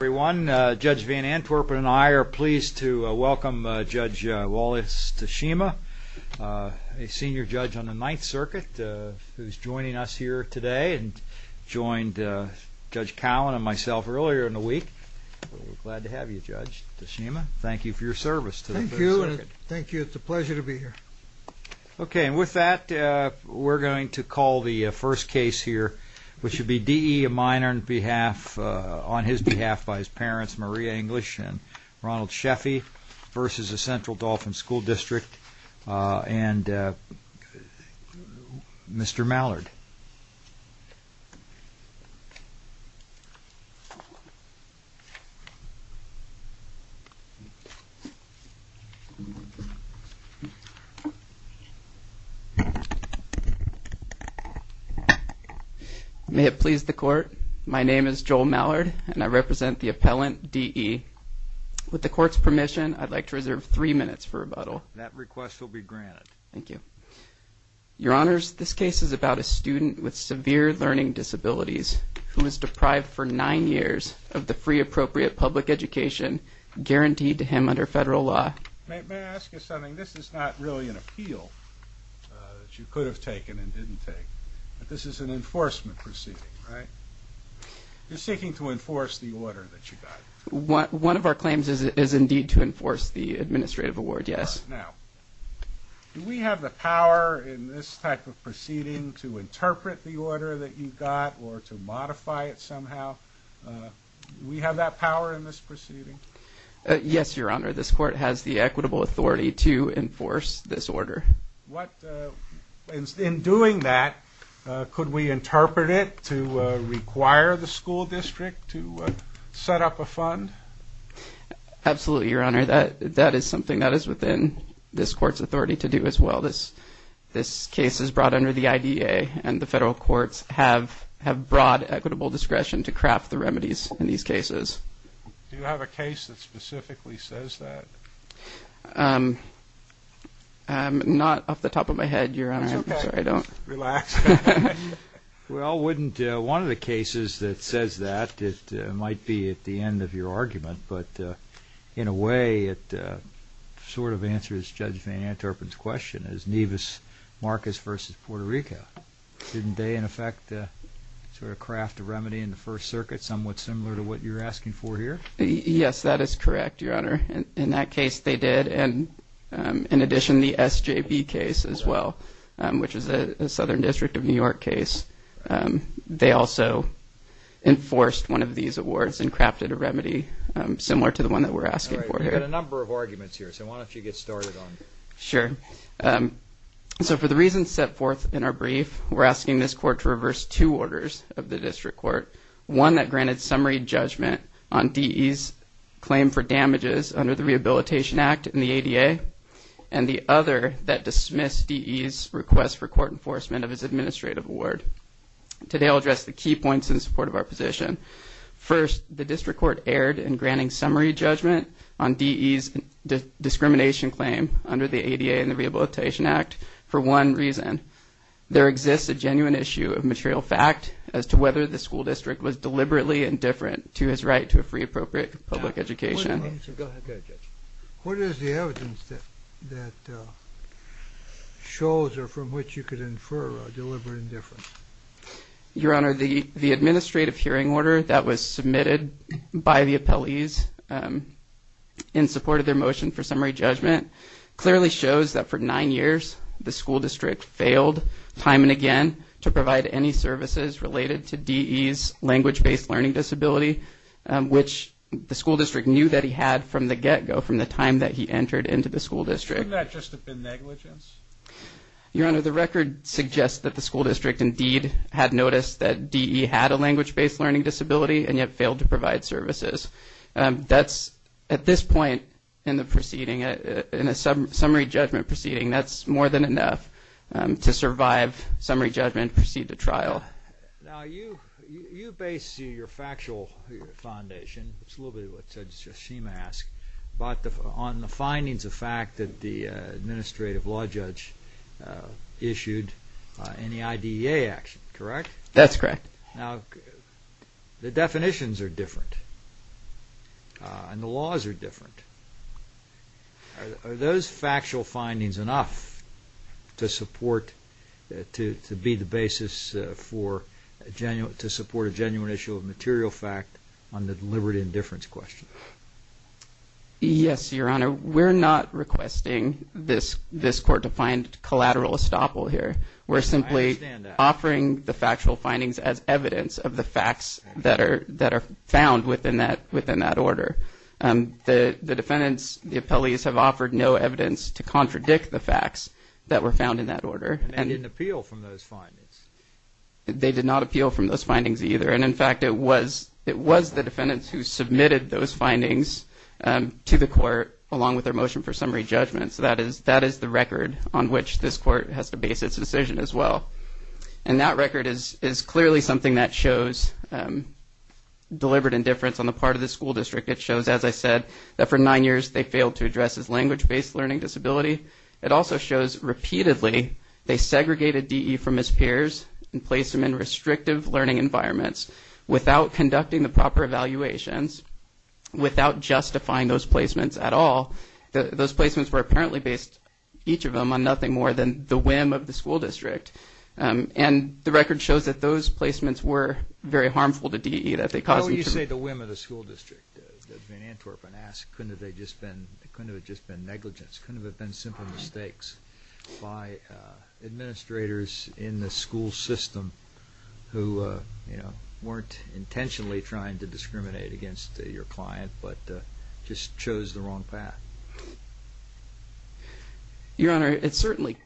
Everyone, Judge Van Antwerpen and I are pleased to welcome Judge Wallace Tashima, a senior judge on the Ninth Circuit, who's joining us here today and joined Judge Cowan and myself earlier in the week. We're glad to have you, Judge Tashima. Thank you for your service to the Ninth Circuit. Thank you. It's a pleasure to be here. Okay, and with that, we're going to call the first case here, which will be D. E. Miner on his behalf by his parents, Maria English and Ronald Sheffy v. Central Dauphin School District and Mr. Mallard. May it please the Court, my name is Joel Mallard and I represent the appellant D. E. With the Court's permission, I'd like to reserve three minutes for rebuttal. Thank you. Your Honors, this case is about a student with severe learning disabilities who was deprived for nine years of the free appropriate public education guaranteed to him under federal law. May I ask you something? This is not really an appeal that you could have taken and didn't take. This is an enforcement proceeding, right? You're seeking to enforce the order that you got. One of our claims is indeed to enforce the administrative award, yes. Now, do we have the power in this type of proceeding to interpret the order that you got or to modify it somehow? Do we have that power in this proceeding? Yes, Your Honor. This Court has the equitable authority to enforce this order. In doing that, could we interpret it to require the school district to set up a fund? Absolutely, Your Honor. That is something that is within this Court's authority to do as well. This case is brought under the I.D.A. and the federal courts have broad equitable discretion to craft the remedies in these cases. Do you have a case that specifically says that? Not off the top of my head, Your Honor. I'm sorry, I don't... It's okay. Relax. Well, wouldn't one of the cases that says that, it might be at the end of your argument, but in a way it sort of answers Judge Van Anterpen's question. It's Nevis-Marcus v. Puerto Rico. Didn't they, in effect, sort of craft a remedy in the First Circuit somewhat similar to what you're asking for here? Yes, that is correct, Your Honor. In that case, they did. In addition, the SJB case as well, which is a Southern District of New York case, they also enforced one of these awards and crafted a remedy similar to the one that we're asking for here. All right. We've got a number of arguments here, so why don't you get started on them? Sure. So for the reasons set forth in our brief, we're asking this Court to reverse two orders of the District Court, one that granted summary judgment on D.E.'s claim for request for court enforcement of his administrative award. Today, I'll address the key points in support of our position. First, the District Court erred in granting summary judgment on D.E.'s discrimination claim under the ADA and the Rehabilitation Act for one reason. There exists a genuine issue of material fact as to whether the school district was deliberately indifferent to his right to a free, appropriate public education. What is the evidence that shows or from which you could infer a deliberate indifference? Your Honor, the administrative hearing order that was submitted by the appellees in support of their motion for summary judgment clearly shows that for nine years, the school district failed time and again to provide any services related to D.E.'s language-based learning disability, which the school district knew that he had from the get-go, from the time that he entered into the school district. Couldn't that just have been negligence? Your Honor, the record suggests that the school district indeed had noticed that D.E. had a language-based learning disability and yet failed to provide services. That's, at this point in the proceeding, in a summary judgment proceeding, that's more than enough to survive summary judgment and proceed to trial. Now, you base your factual foundation, it's a little bit of what Judge Shima asked, on the findings of fact that the administrative law judge issued in the IDEA action, correct? That's correct. Now, the definitions are different and the laws are different. Are those factual findings enough to support, to be the basis for a genuine, to support a genuine issue of material fact on the liberty and indifference question? Yes, Your Honor. We're not requesting this court to find collateral estoppel here. We're simply offering the factual findings as evidence of the facts that are found within that order. The defendants, the appellees, have offered no evidence to contradict the facts that were found in that order. And they didn't appeal from those findings? They did not appeal from those findings either. And in fact, it was the defendants who submitted those findings to the court along with their motion for summary judgment. So that is the record on which this court has to base its decision as well. And that record is clearly something that shows deliberate indifference on the part of the school district. It shows, as I said, that for nine years they failed to address his language-based learning disability. It also shows repeatedly they segregated DE from his peers and placed him in restrictive learning environments without conducting the proper evaluations, without justifying those placements at all. Those placements were apparently based, each of them, on nothing more than the whim of the school district. And the record shows that those placements were very harmful to DE. Why would you say the whim of the school district? Van Antwerpen asked, couldn't it have just been negligence? Couldn't it have been simple mistakes by administrators in the school system who weren't intentionally trying to discriminate against your client but just chose the wrong path? Your Honor, it certainly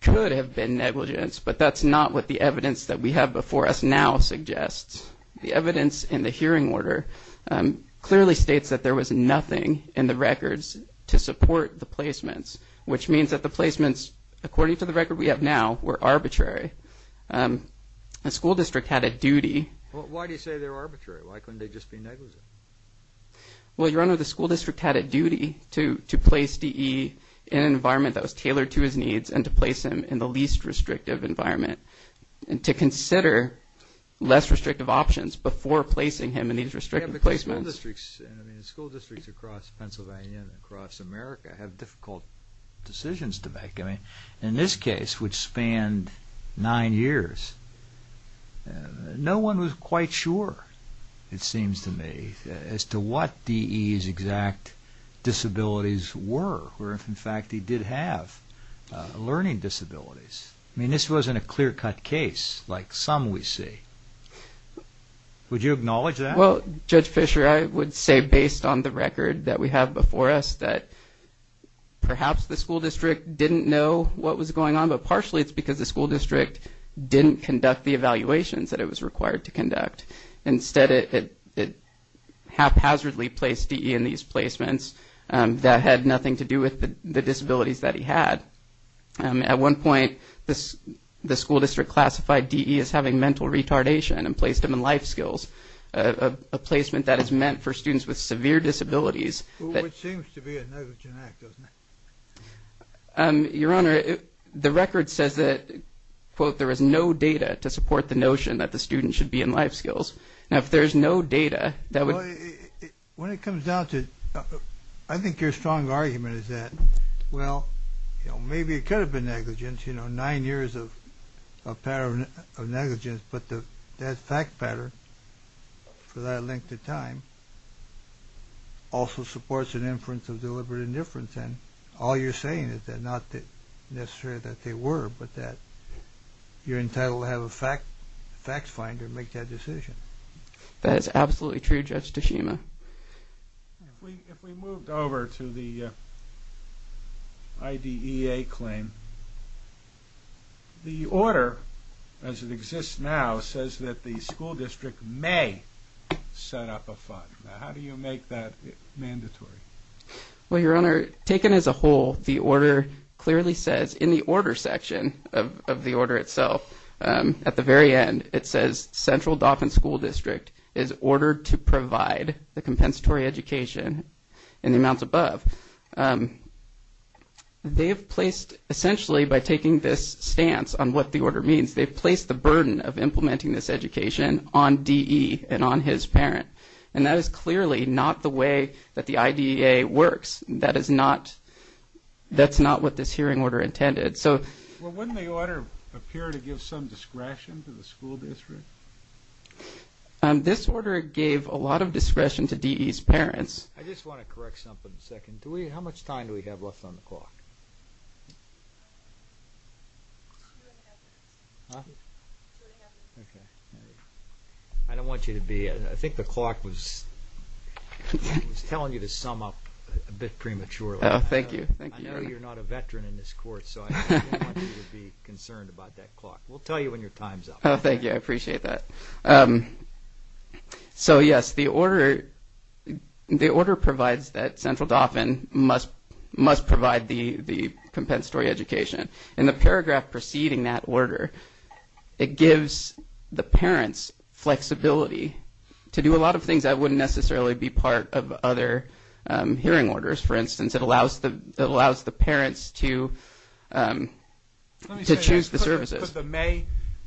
could have been negligence, but that's not what the evidence that we have before us now suggests. The evidence in the hearing order clearly states that there was nothing in the records to support the placements, which means that the placements, according to the record we have now, were arbitrary. The school district had a duty... Well, why do you say they're arbitrary? Why couldn't they just be negligent? Well, Your Honor, the school district had a duty to place DE in an environment that was tailored to his needs and to place him in the least restrictive environment and to consider less restrictive options before placing him in these restrictive placements. Yeah, because school districts across Pennsylvania and across America have difficult decisions to make. In this case, which spanned nine years, no one was quite sure, it seems to me, as to what DE's exact disabilities were, or if, in fact, he did have learning disabilities. I mean, this wasn't a clear-cut case like some we see. Would you acknowledge that? Well, Judge Fischer, I would say, based on the record that we have before us, that perhaps the school district didn't know what was going on, but partially it's because the school district didn't conduct the evaluations that it was required to conduct. Instead, it haphazardly placed DE in these placements that had nothing to do with the disabilities that he had. At one point, the school district classified DE as having mental retardation and placed him in life skills, a placement that is meant for students with severe disabilities. Which seems to be a negligent act, doesn't it? Your Honor, the record says that, quote, there is no data to support the notion that the student should be in life skills. Now, if there's no data, that would... When it comes down to it, I think your strong argument is that, well, maybe it could have been negligence, you know, nine years of negligence, but that fact pattern for that length of time also supports an inference of deliberate indifference, and all you're saying is that, not necessarily that they were, but that you're entitled to have a facts finder make that decision. That is absolutely true, Judge Teshima. If we moved over to the IDEA claim, the order, as it exists now, says that the school district may set up a fund. Now, how do you make that mandatory? Well, your Honor, taken as a whole, the order clearly says, in the order section of the order itself, at the very end, it says, central Dauphin school district is ordered to provide the compensatory education in the amounts above. They have placed, essentially, by taking this stance on what the order means, they've placed the burden of implementing this education on D.E. and on his parent, and that is clearly not the way that the IDEA works. That is not, that's not what this hearing order intended, so. Well, wouldn't the order appear to give some discretion to the school district? This order gave a lot of discretion to D.E.'s parents. I just want to correct something for a second. How much time do we have left on the clock? I don't want you to be, I think the clock was telling you to sum up a bit prematurely. Oh, thank you. I know you're not a veteran in this court, so I don't want you to be concerned about that clock. We'll tell you when your time's up. Oh, thank you, I appreciate that. So, yes, the order, the order provides that central Dauphin must provide the compensatory education. In the paragraph preceding that order, it gives the parents flexibility to do a lot of things that wouldn't necessarily be part of other hearing orders. For instance, it allows the parents to choose the services. Let me say this. Could the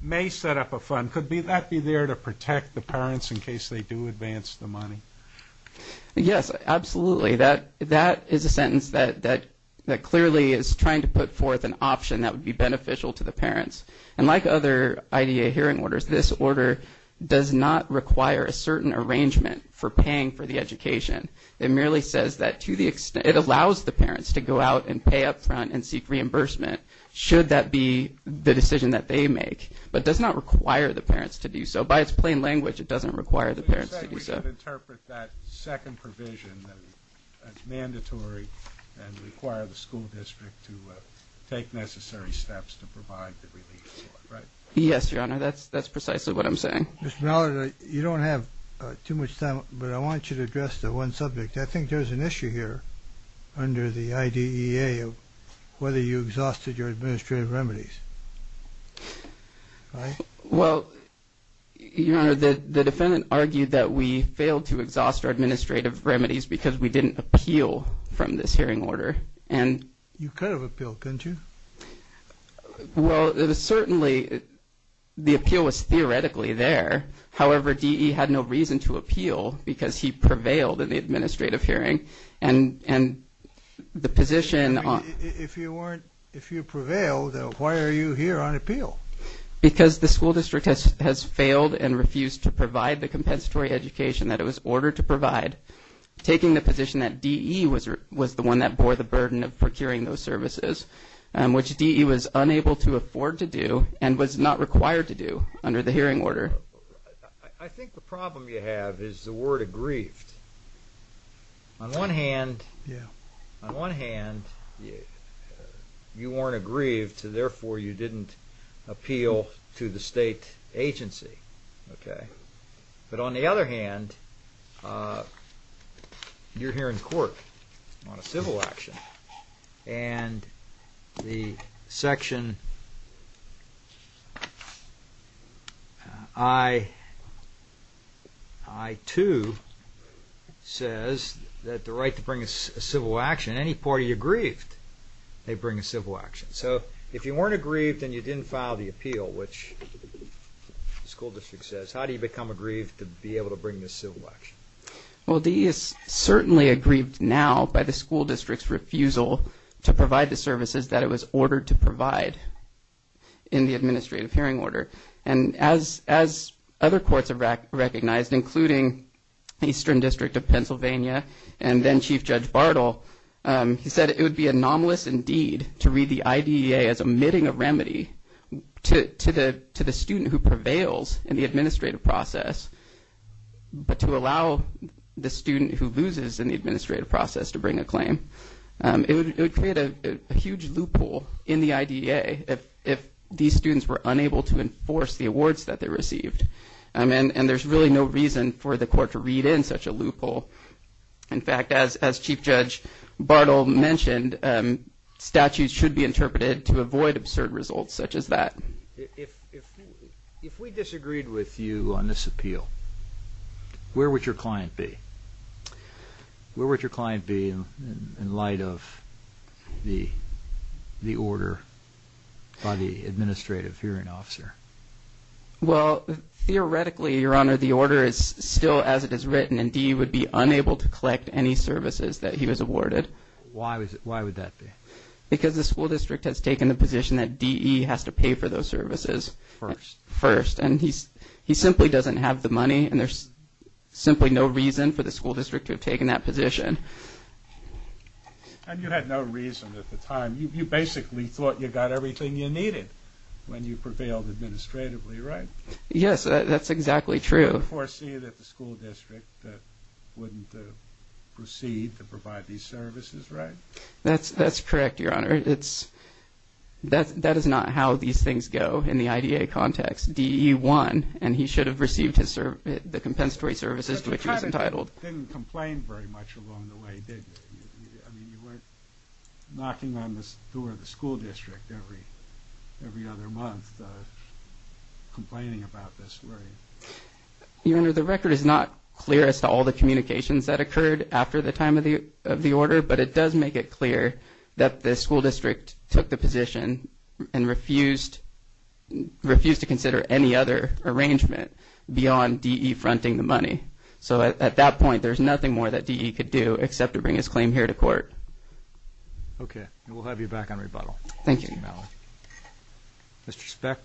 M.A.E. set up a fund? Could that be there to protect the parents in case they do advance the money? Yes, absolutely. That is a sentence that clearly is trying to put forth an option that would be beneficial to the parents. And like other IDA hearing orders, this order does not require a certain arrangement for paying for the education. It merely says that to the extent, it allows the parents to go out and pay up front and seek reimbursement should that be the decision that they make, but does not require the parents to do so. By its plain language, it doesn't require the parents to do so. So you're saying we could interpret that second provision as mandatory and require the school district to take necessary steps to provide the relief for it, right? Yes, Your Honor. That's precisely what I'm saying. Mr. Mallard, you don't have too much time, but I want you to address the one subject. I think there's an issue here under the IDEA of whether you exhausted your administrative remedies, right? Well, Your Honor, the defendant argued that we failed to exhaust our administrative remedies because we didn't appeal from this hearing order. You could have appealed, couldn't you? Well, certainly the appeal was theoretically there. However, DE had no reason to appeal because he prevailed in the administrative hearing. If you prevailed, then why are you here on appeal? Because the school district has failed and refused to provide the compensatory education that it was ordered to provide, taking the position that DE was the one that bore the burden of procuring those services, which DE was unable to afford to do and was not required to do under the hearing order. I think the problem you have is the word aggrieved. On one hand, you weren't aggrieved, so therefore you didn't appeal to the state agency. But on the other hand, you're here in court on a civil action, and the section I-2 says that the right to bring a civil action, any party aggrieved, they bring a civil action. So if you weren't aggrieved and you didn't file the appeal, which the school district says, how do you become aggrieved to be able to bring this civil action? Well, DE is certainly aggrieved now by the school district's refusal to provide the services that it was ordered to provide in the administrative hearing order. And as other courts have recognized, including the Eastern District of Pennsylvania and then Chief Judge Bartle, he said it would be anomalous indeed to read the IDEA as omitting a remedy to the student who prevails in the administrative process, but to allow the student who loses in the administrative process to bring a claim. It would create a huge loophole in the IDEA if these students were unable to enforce the awards that they received. And there's really no reason for the court to read in such a loophole. In fact, as Chief Judge Bartle mentioned, statutes should be interpreted to avoid absurd results such as that. If we disagreed with you on this appeal, where would your client be? Where would your client be in light of the order by the administrative hearing officer? Well, theoretically, Your Honor, the order is still as it is written, and DE would be unable to collect any services that he was awarded. Why would that be? Because the school district has taken the position that DE has to pay for those services first. And he simply doesn't have the money, and there's simply no reason for the school district to have taken that position. And you had no reason at the time. You basically thought you got everything you needed when you prevailed administratively, right? Yes, that's exactly true. You foresee that the school district wouldn't proceed to provide these services, right? That's correct, Your Honor. That is not how these things go in the IDEA context. DE won, and he should have received the compensatory services to which he was entitled. But you kind of didn't complain very much along the way, did you? I mean, you weren't knocking on the door of the school district every other month, complaining about this, were you? Your Honor, the record is not clear as to all the communications that occurred after the time of the order, but it does make it clear that the school district took the position and refused to consider any other arrangement beyond DE fronting the money. So at that point, there's nothing more that DE could do except to bring his claim here to court. Okay, and we'll have you back on rebuttal. Thank you. Mr. Specht.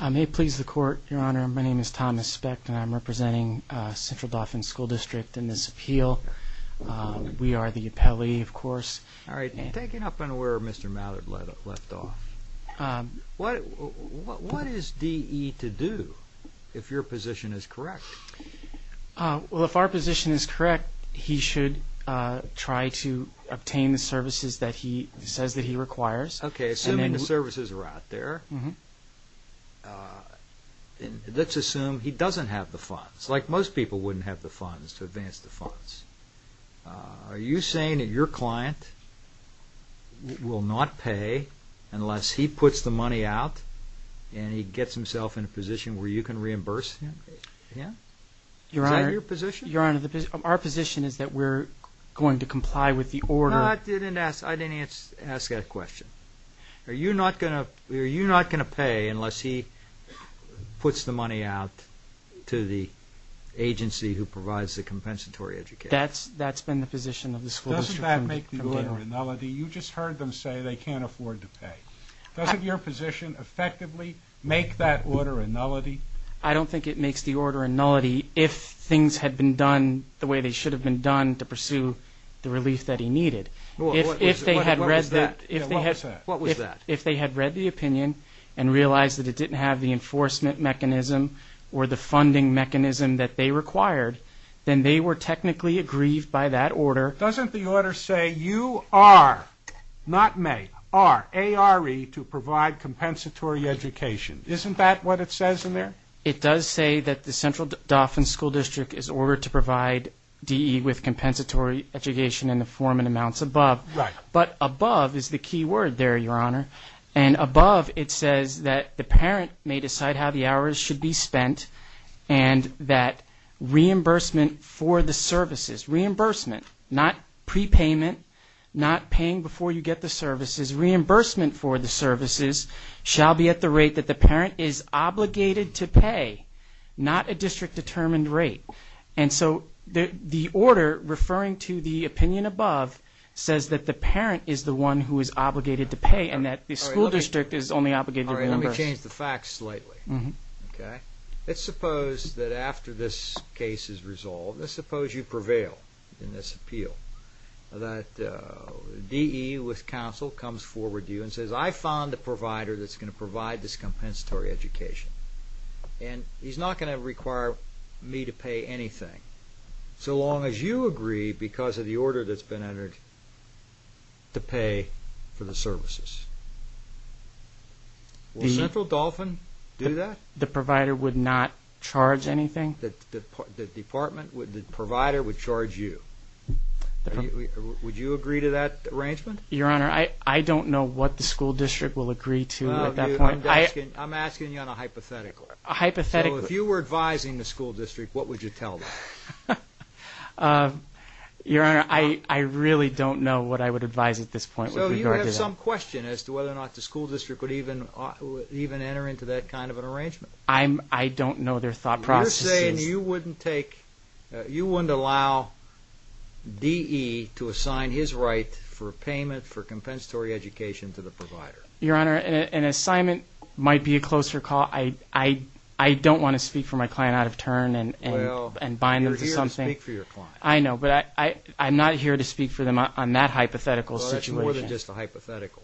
I may please the Court, Your Honor. My name is Thomas Specht, and I'm representing Central Dauphin School District in this appeal. We are the appellee, of course. All right, and taking up on where Mr. Mallard left off, what is DE to do if your position is correct? Well, if our position is correct, he should try to obtain the services that he says that he requires. Okay, assuming the services are out there, let's assume he doesn't have the funds. It's like most people wouldn't have the funds to advance the funds. Are you saying that your client will not pay unless he puts the money out and he gets himself in a position where you can reimburse him? Is that your position? Your Honor, our position is that we're going to comply with the order. I didn't ask that question. Are you not going to pay unless he puts the money out to the agency who provides the compensatory education? That's been the position of the school district. Doesn't that make the order a nullity? You just heard them say they can't afford to pay. Doesn't your position effectively make that order a nullity? I don't think it makes the order a nullity if things had been done the way they should have been done to pursue the relief that he needed. What was that? If they had read the opinion and realized that it didn't have the enforcement mechanism or the funding mechanism that they required, then they were technically aggrieved by that order. Doesn't the order say you are, not may, are, A-R-E, to provide compensatory education? Isn't that what it says in there? It does say that the Central Dauphin School District is ordered to provide DE with compensatory education in the form and amounts above. But above is the key word there, Your Honor, and above it says that the parent may decide how the hours should be spent and that reimbursement for the services, reimbursement, not prepayment, not paying before you get the services, reimbursement for the services, shall be at the rate that the parent is obligated to pay, not a district-determined rate. And so the order, referring to the opinion above, says that the parent is the one who is obligated to pay and that the school district is only obligated to reimburse. All right, let me change the facts slightly. Let's suppose that after this case is resolved, let's suppose you prevail in this appeal, that DE with counsel comes forward to you and says, I found the provider that's going to provide this compensatory education. And he's not going to require me to pay anything so long as you agree, because of the order that's been entered, to pay for the services. Will Central Dauphin do that? The provider would not charge anything? The provider would charge you. Would you agree to that arrangement? Your Honor, I don't know what the school district will agree to at that point. I'm asking you on a hypothetical. A hypothetical. So if you were advising the school district, what would you tell them? Your Honor, I really don't know what I would advise at this point. So you have some question as to whether or not the school district would even enter into that kind of an arrangement. I don't know their thought processes. You're saying you wouldn't allow DE to assign his right for payment for compensatory education to the provider. Your Honor, an assignment might be a closer call. I don't want to speak for my client out of turn and bind them to something. Well, you're here to speak for your client. I know, but I'm not here to speak for them on that hypothetical situation. Well, that's more than just a hypothetical,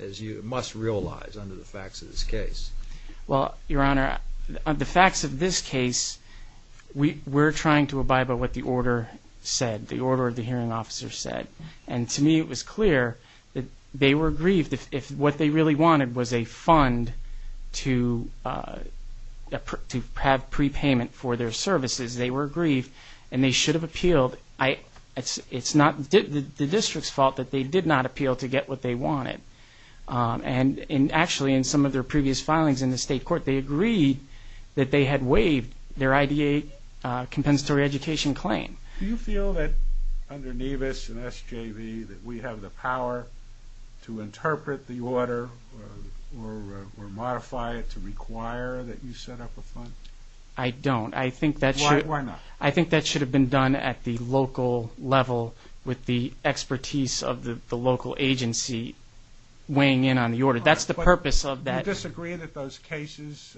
as you must realize under the facts of this case. Well, Your Honor, the facts of this case, we're trying to abide by what the order said, the order the hearing officer said. And to me it was clear that they were aggrieved. If what they really wanted was a fund to have prepayment for their services, they were aggrieved and they should have appealed. It's not the district's fault that they did not appeal to get what they wanted. And actually in some of their previous filings in the state court, they agreed that they had waived their IDA compensatory education claim. Do you feel that under Nevis and SJV that we have the power to interpret the order or modify it to require that you set up a fund? I don't. Why not? I think that should have been done at the local level with the expertise of the local agency weighing in on the order. That's the purpose of that. Do you disagree that those cases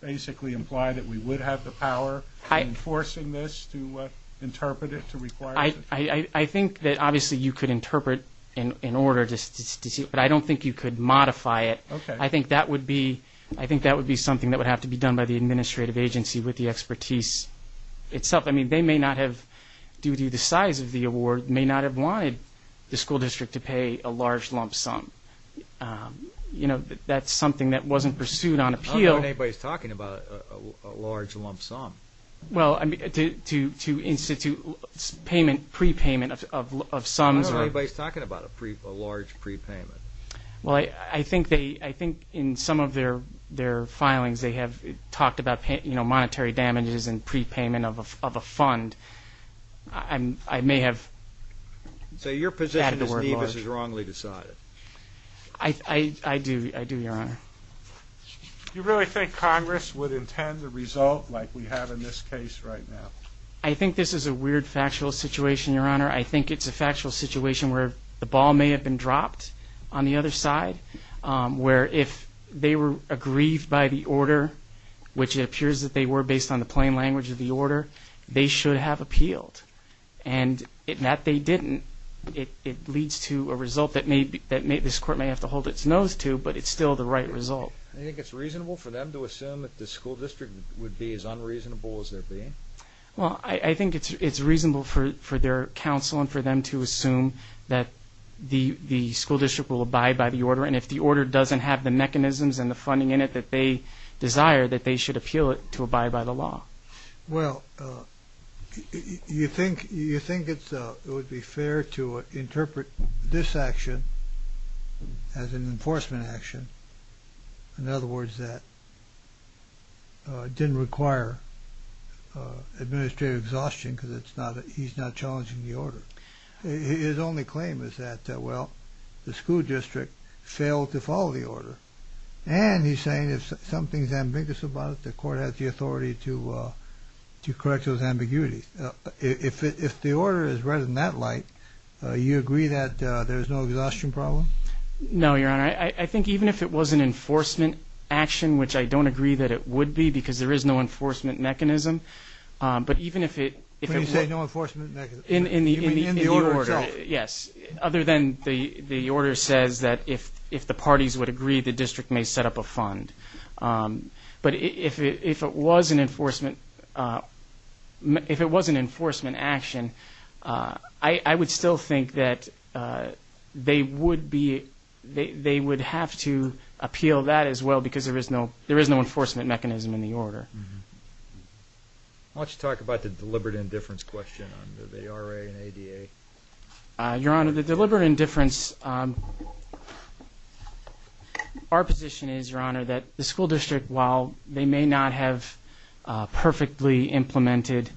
basically imply that we would have the power in enforcing this to interpret it to require it? I think that obviously you could interpret in order, but I don't think you could modify it. I think that would be something that would have to be done by the administrative agency with the expertise itself. I mean, they may not have, due to the size of the award, may not have wanted the school district to pay a large lump sum. That's something that wasn't pursued on appeal. I don't know when anybody's talking about a large lump sum. Well, to institute payment, prepayment of sums. I don't know when anybody's talking about a large prepayment. Well, I think in some of their filings they have talked about monetary damages and prepayment of a fund. I may have added the word large. So your position is Nevis is wrongly decided. I do, Your Honor. Do you really think Congress would intend the result like we have in this case right now? I think this is a weird factual situation, Your Honor. I think it's a factual situation where the ball may have been dropped on the other side, where if they were aggrieved by the order, which it appears that they were based on the plain language of the order, they should have appealed. And that they didn't, it leads to a result that this Court may have to hold its nose to, but it's still the right result. Do you think it's reasonable for them to assume that the school district would be as unreasonable as they're being? Well, I think it's reasonable for their counsel and for them to assume that the school district will abide by the order. And if the order doesn't have the mechanisms and the funding in it that they desire, that they should appeal it to abide by the law. Well, you think it would be fair to interpret this action as an enforcement action. In other words, that it didn't require administrative exhaustion because he's not challenging the order. His only claim is that, well, the school district failed to follow the order. And he's saying if something's ambiguous about it, the Court has the authority to correct those ambiguities. If the order is read in that light, you agree that there's no exhaustion problem? No, Your Honor. I think even if it was an enforcement action, which I don't agree that it would be, because there is no enforcement mechanism, but even if it – When you say no enforcement mechanism, you mean in the order itself? Yes, other than the order says that if the parties would agree, the district may set up a fund. But if it was an enforcement action, I would still think that they would be – they would have to appeal that as well because there is no enforcement mechanism in the order. Why don't you talk about the deliberate indifference question under the RA and ADA? Your Honor, the deliberate indifference – our position is, Your Honor, that the school district, while they may not have perfectly implemented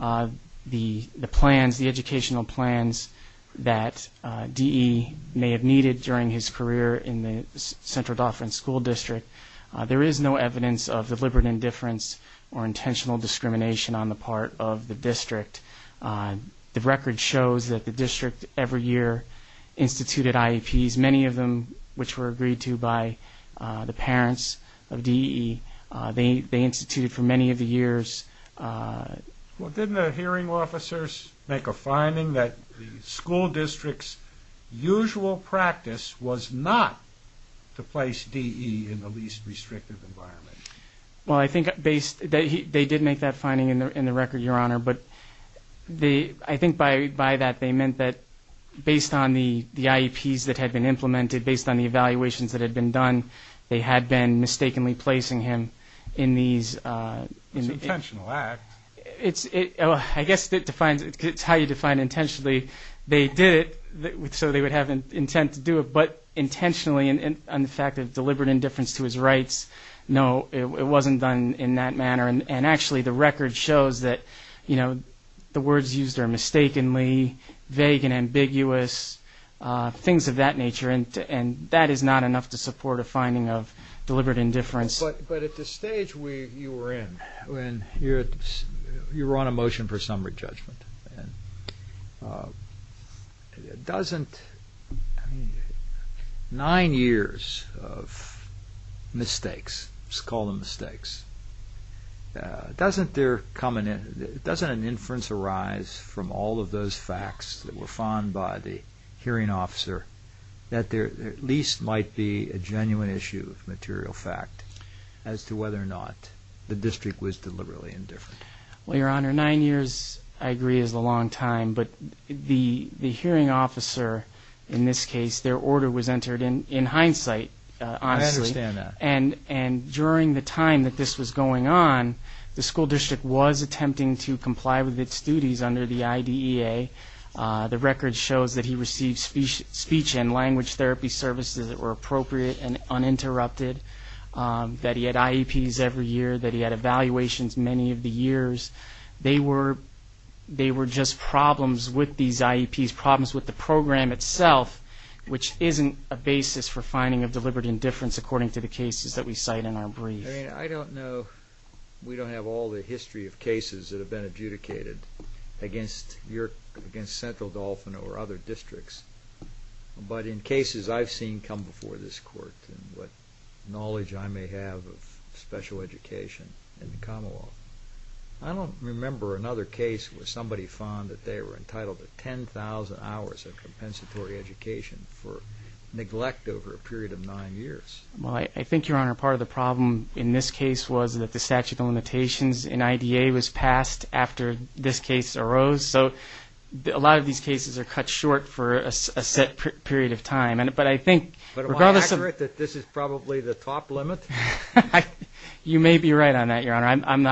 the plans, the educational plans that DE may have needed during his career in the Central Dauphin School District, there is no evidence of deliberate indifference or intentional discrimination on the part of the district. The record shows that the district every year instituted IEPs, many of them which were agreed to by the parents of DE. They instituted for many of the years. Well, didn't the hearing officers make a finding that the school district's usual practice was not to place DE in the least restrictive environment? Well, I think based – they did make that finding in the record, Your Honor, but I think by that they meant that based on the IEPs that had been implemented, based on the evaluations that had been done, they had been mistakenly placing him in these – It's an intentional act. It's – I guess it defines – it's how you define intentionally. They did it so they would have intent to do it, but intentionally, and the fact that deliberate indifference to his rights, no, it wasn't done in that manner. And actually the record shows that, you know, the words used are mistakenly vague and ambiguous, things of that nature, and that is not enough to support a finding of deliberate indifference. But at the stage you were in, when you were on a motion for summary judgment, doesn't – I mean, nine years of mistakes, let's call them mistakes, doesn't there come – doesn't an inference arise from all of those facts that were found by the hearing officer that there at least might be a genuine issue of material fact as to whether or not the district was deliberately indifferent? Well, Your Honor, nine years, I agree, is a long time, but the hearing officer in this case, their order was entered in hindsight, honestly. I understand that. And during the time that this was going on, the school district was attempting to comply with its duties under the IDEA. The record shows that he received speech and language therapy services that were appropriate and uninterrupted, that he had IEPs every year, that he had evaluations many of the years. They were just problems with these IEPs, problems with the program itself, which isn't a basis for finding of deliberate indifference, according to the cases that we cite in our brief. I mean, I don't know – we don't have all the history of cases that have been adjudicated against Central Dauphin or other districts, but in cases I've seen come before this Court, and what knowledge I may have of special education in the Commonwealth, I don't remember another case where somebody found that they were entitled to 10,000 hours of compensatory education for neglect over a period of nine years. Well, I think, Your Honor, part of the problem in this case was that the statute of limitations in IDEA was passed after this case arose. So a lot of these cases are cut short for a set period of time. But I think – But am I accurate that this is probably the top limit? You may be right on that, Your Honor. I'm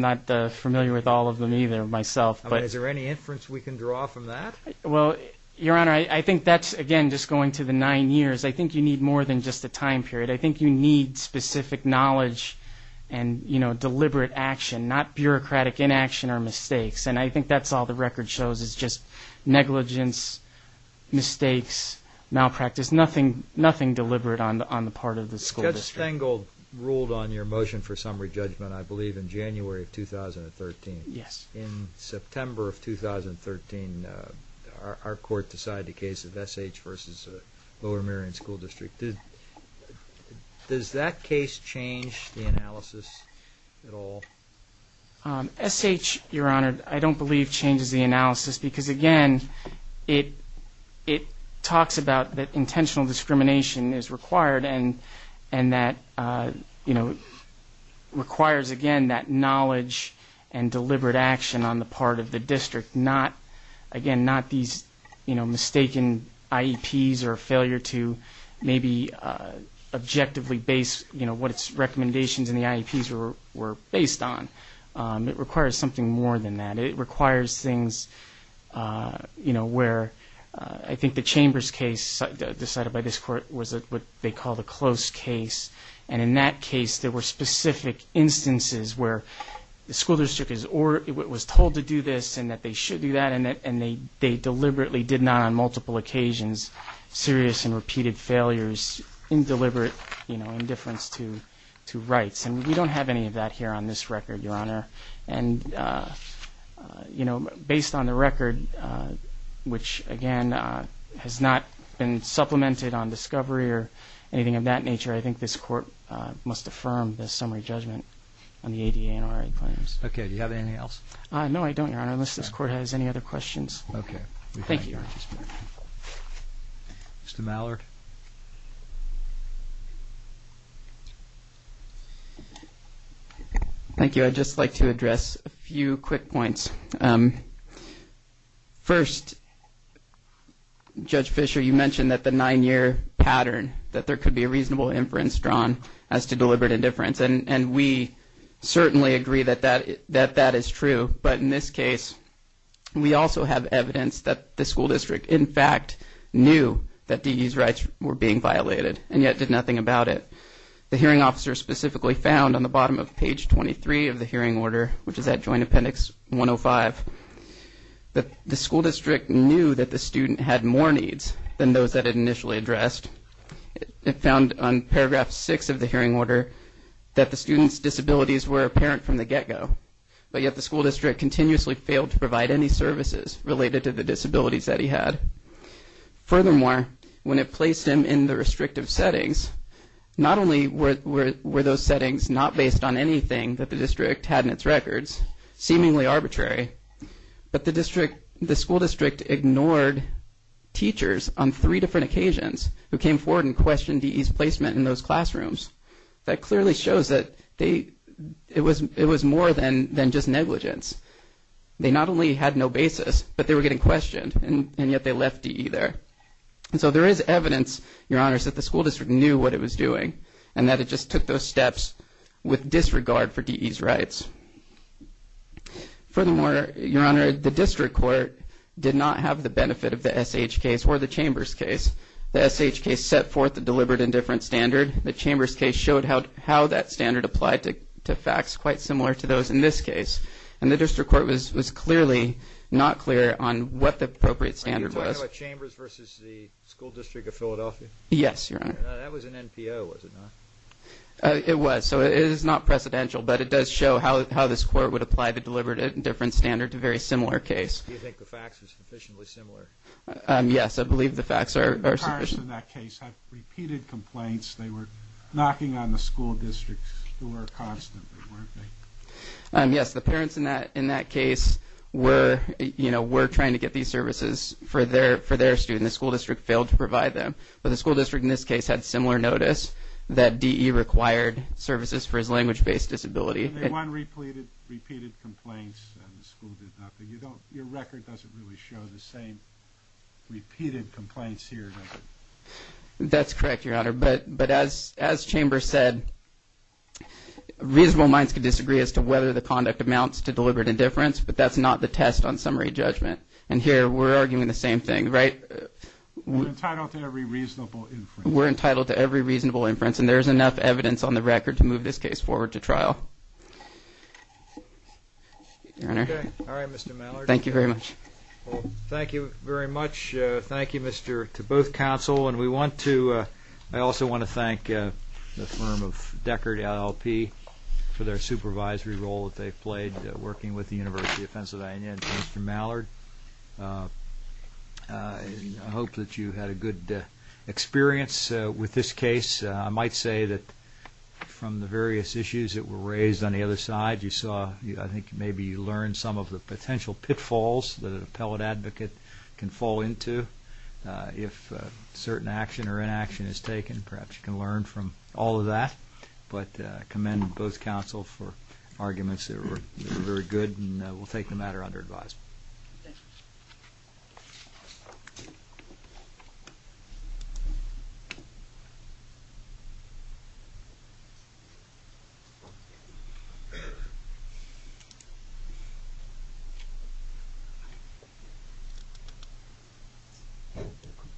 not familiar with all of them either myself. Is there any inference we can draw from that? Well, Your Honor, I think that's, again, just going to the nine years. I think you need more than just a time period. I think you need specific knowledge and, you know, deliberate action, not bureaucratic inaction or mistakes. And I think that's all the record shows is just negligence, mistakes, malpractice, nothing deliberate on the part of the school district. Judge Stengel ruled on your motion for summary judgment, I believe, in January of 2013. Yes. In September of 2013, our court decided the case of S.H. versus Lower Merion School District. Does that case change the analysis at all? S.H., Your Honor, I don't believe changes the analysis because, again, it talks about that intentional discrimination is required and that, you know, requires, again, that knowledge and deliberate action on the part of the district, not, again, not these, you know, mistaken IEPs or failure to maybe objectively base, you know, what its recommendations in the IEPs were based on. It requires something more than that. It requires things, you know, where I think the Chambers case decided by this court was what they called a close case. And in that case, there were specific instances where the school district was told to do this and that they should do that and they deliberately did not on multiple occasions, serious and repeated failures, indeliberate, you know, indifference to rights. And we don't have any of that here on this record, Your Honor. And, you know, based on the record, which, again, has not been supplemented on discovery or anything of that nature, I think this court must affirm the summary judgment on the ADA and RA claims. Okay. Do you have anything else? No, I don't, Your Honor, unless this court has any other questions. Okay. Thank you. Mr. Mallard. Thank you. I'd just like to address a few quick points. First, Judge Fischer, you mentioned that the nine-year pattern, that there could be a reasonable inference drawn as to deliberate indifference, and we certainly agree that that is true. But in this case, we also have evidence that the school district, in fact, knew that DE's rights were being violated and yet did nothing about it. The hearing officer specifically found on the bottom of page 23 of the hearing order, which is at Joint Appendix 105, that the school district knew that the student had more needs than those that it initially addressed. It found on paragraph 6 of the hearing order that the student's disabilities were apparent from the get-go, but yet the school district continuously failed to provide any services related to the disabilities that he had. Furthermore, when it placed him in the restrictive settings, not only were those settings not based on anything that the district had in its records, seemingly arbitrary, but the school district ignored teachers on three different occasions who came forward and questioned DE's placement in those classrooms. That clearly shows that it was more than just negligence. They not only had no basis, but they were getting questioned, and yet they left DE there. And so there is evidence, Your Honor, that the school district knew what it was doing and that it just took those steps with disregard for DE's rights. Furthermore, Your Honor, the district court did not have the benefit of the SH case or the Chambers case. The SH case set forth the deliberate indifference standard. The Chambers case showed how that standard applied to facts quite similar to those in this case, and the district court was clearly not clear on what the appropriate standard was. Are you talking about Chambers versus the school district of Philadelphia? Yes, Your Honor. That was an NPO, was it not? It was, so it is not precedential, but it does show how this court would apply the deliberate indifference standard to a very similar case. Do you think the facts are sufficiently similar? Yes, I believe the facts are sufficient. The parents in that case had repeated complaints. They were knocking on the school district's door constantly, weren't they? Yes, the parents in that case were trying to get these services for their student. The school district failed to provide them. But the school district in this case had similar notice that DE required services for his language-based disability. And they won repeated complaints, and the school did nothing. Your record doesn't really show the same repeated complaints here, does it? That's correct, Your Honor. But as Chambers said, reasonable minds can disagree as to whether the conduct amounts to deliberate indifference, but that's not the test on summary judgment. And here we're arguing the same thing, right? We're entitled to every reasonable inference. We're entitled to every reasonable inference, and there is enough evidence on the record to move this case forward to trial. Your Honor? All right, Mr. Mallard. Thank you very much. Well, thank you very much. Thank you to both counsel. And I also want to thank the firm of Deckard LLP for their supervisory role that they've played working with the University of Pennsylvania. And to Mr. Mallard, I hope that you had a good experience with this case. I might say that from the various issues that were raised on the other side, I think maybe you learned some of the potential pitfalls that an appellate advocate can fall into if certain action or inaction is taken. Perhaps you can learn from all of that. But I commend both counsel for arguments that were very good, and we'll take the matter under advice. Thank you. Thank you.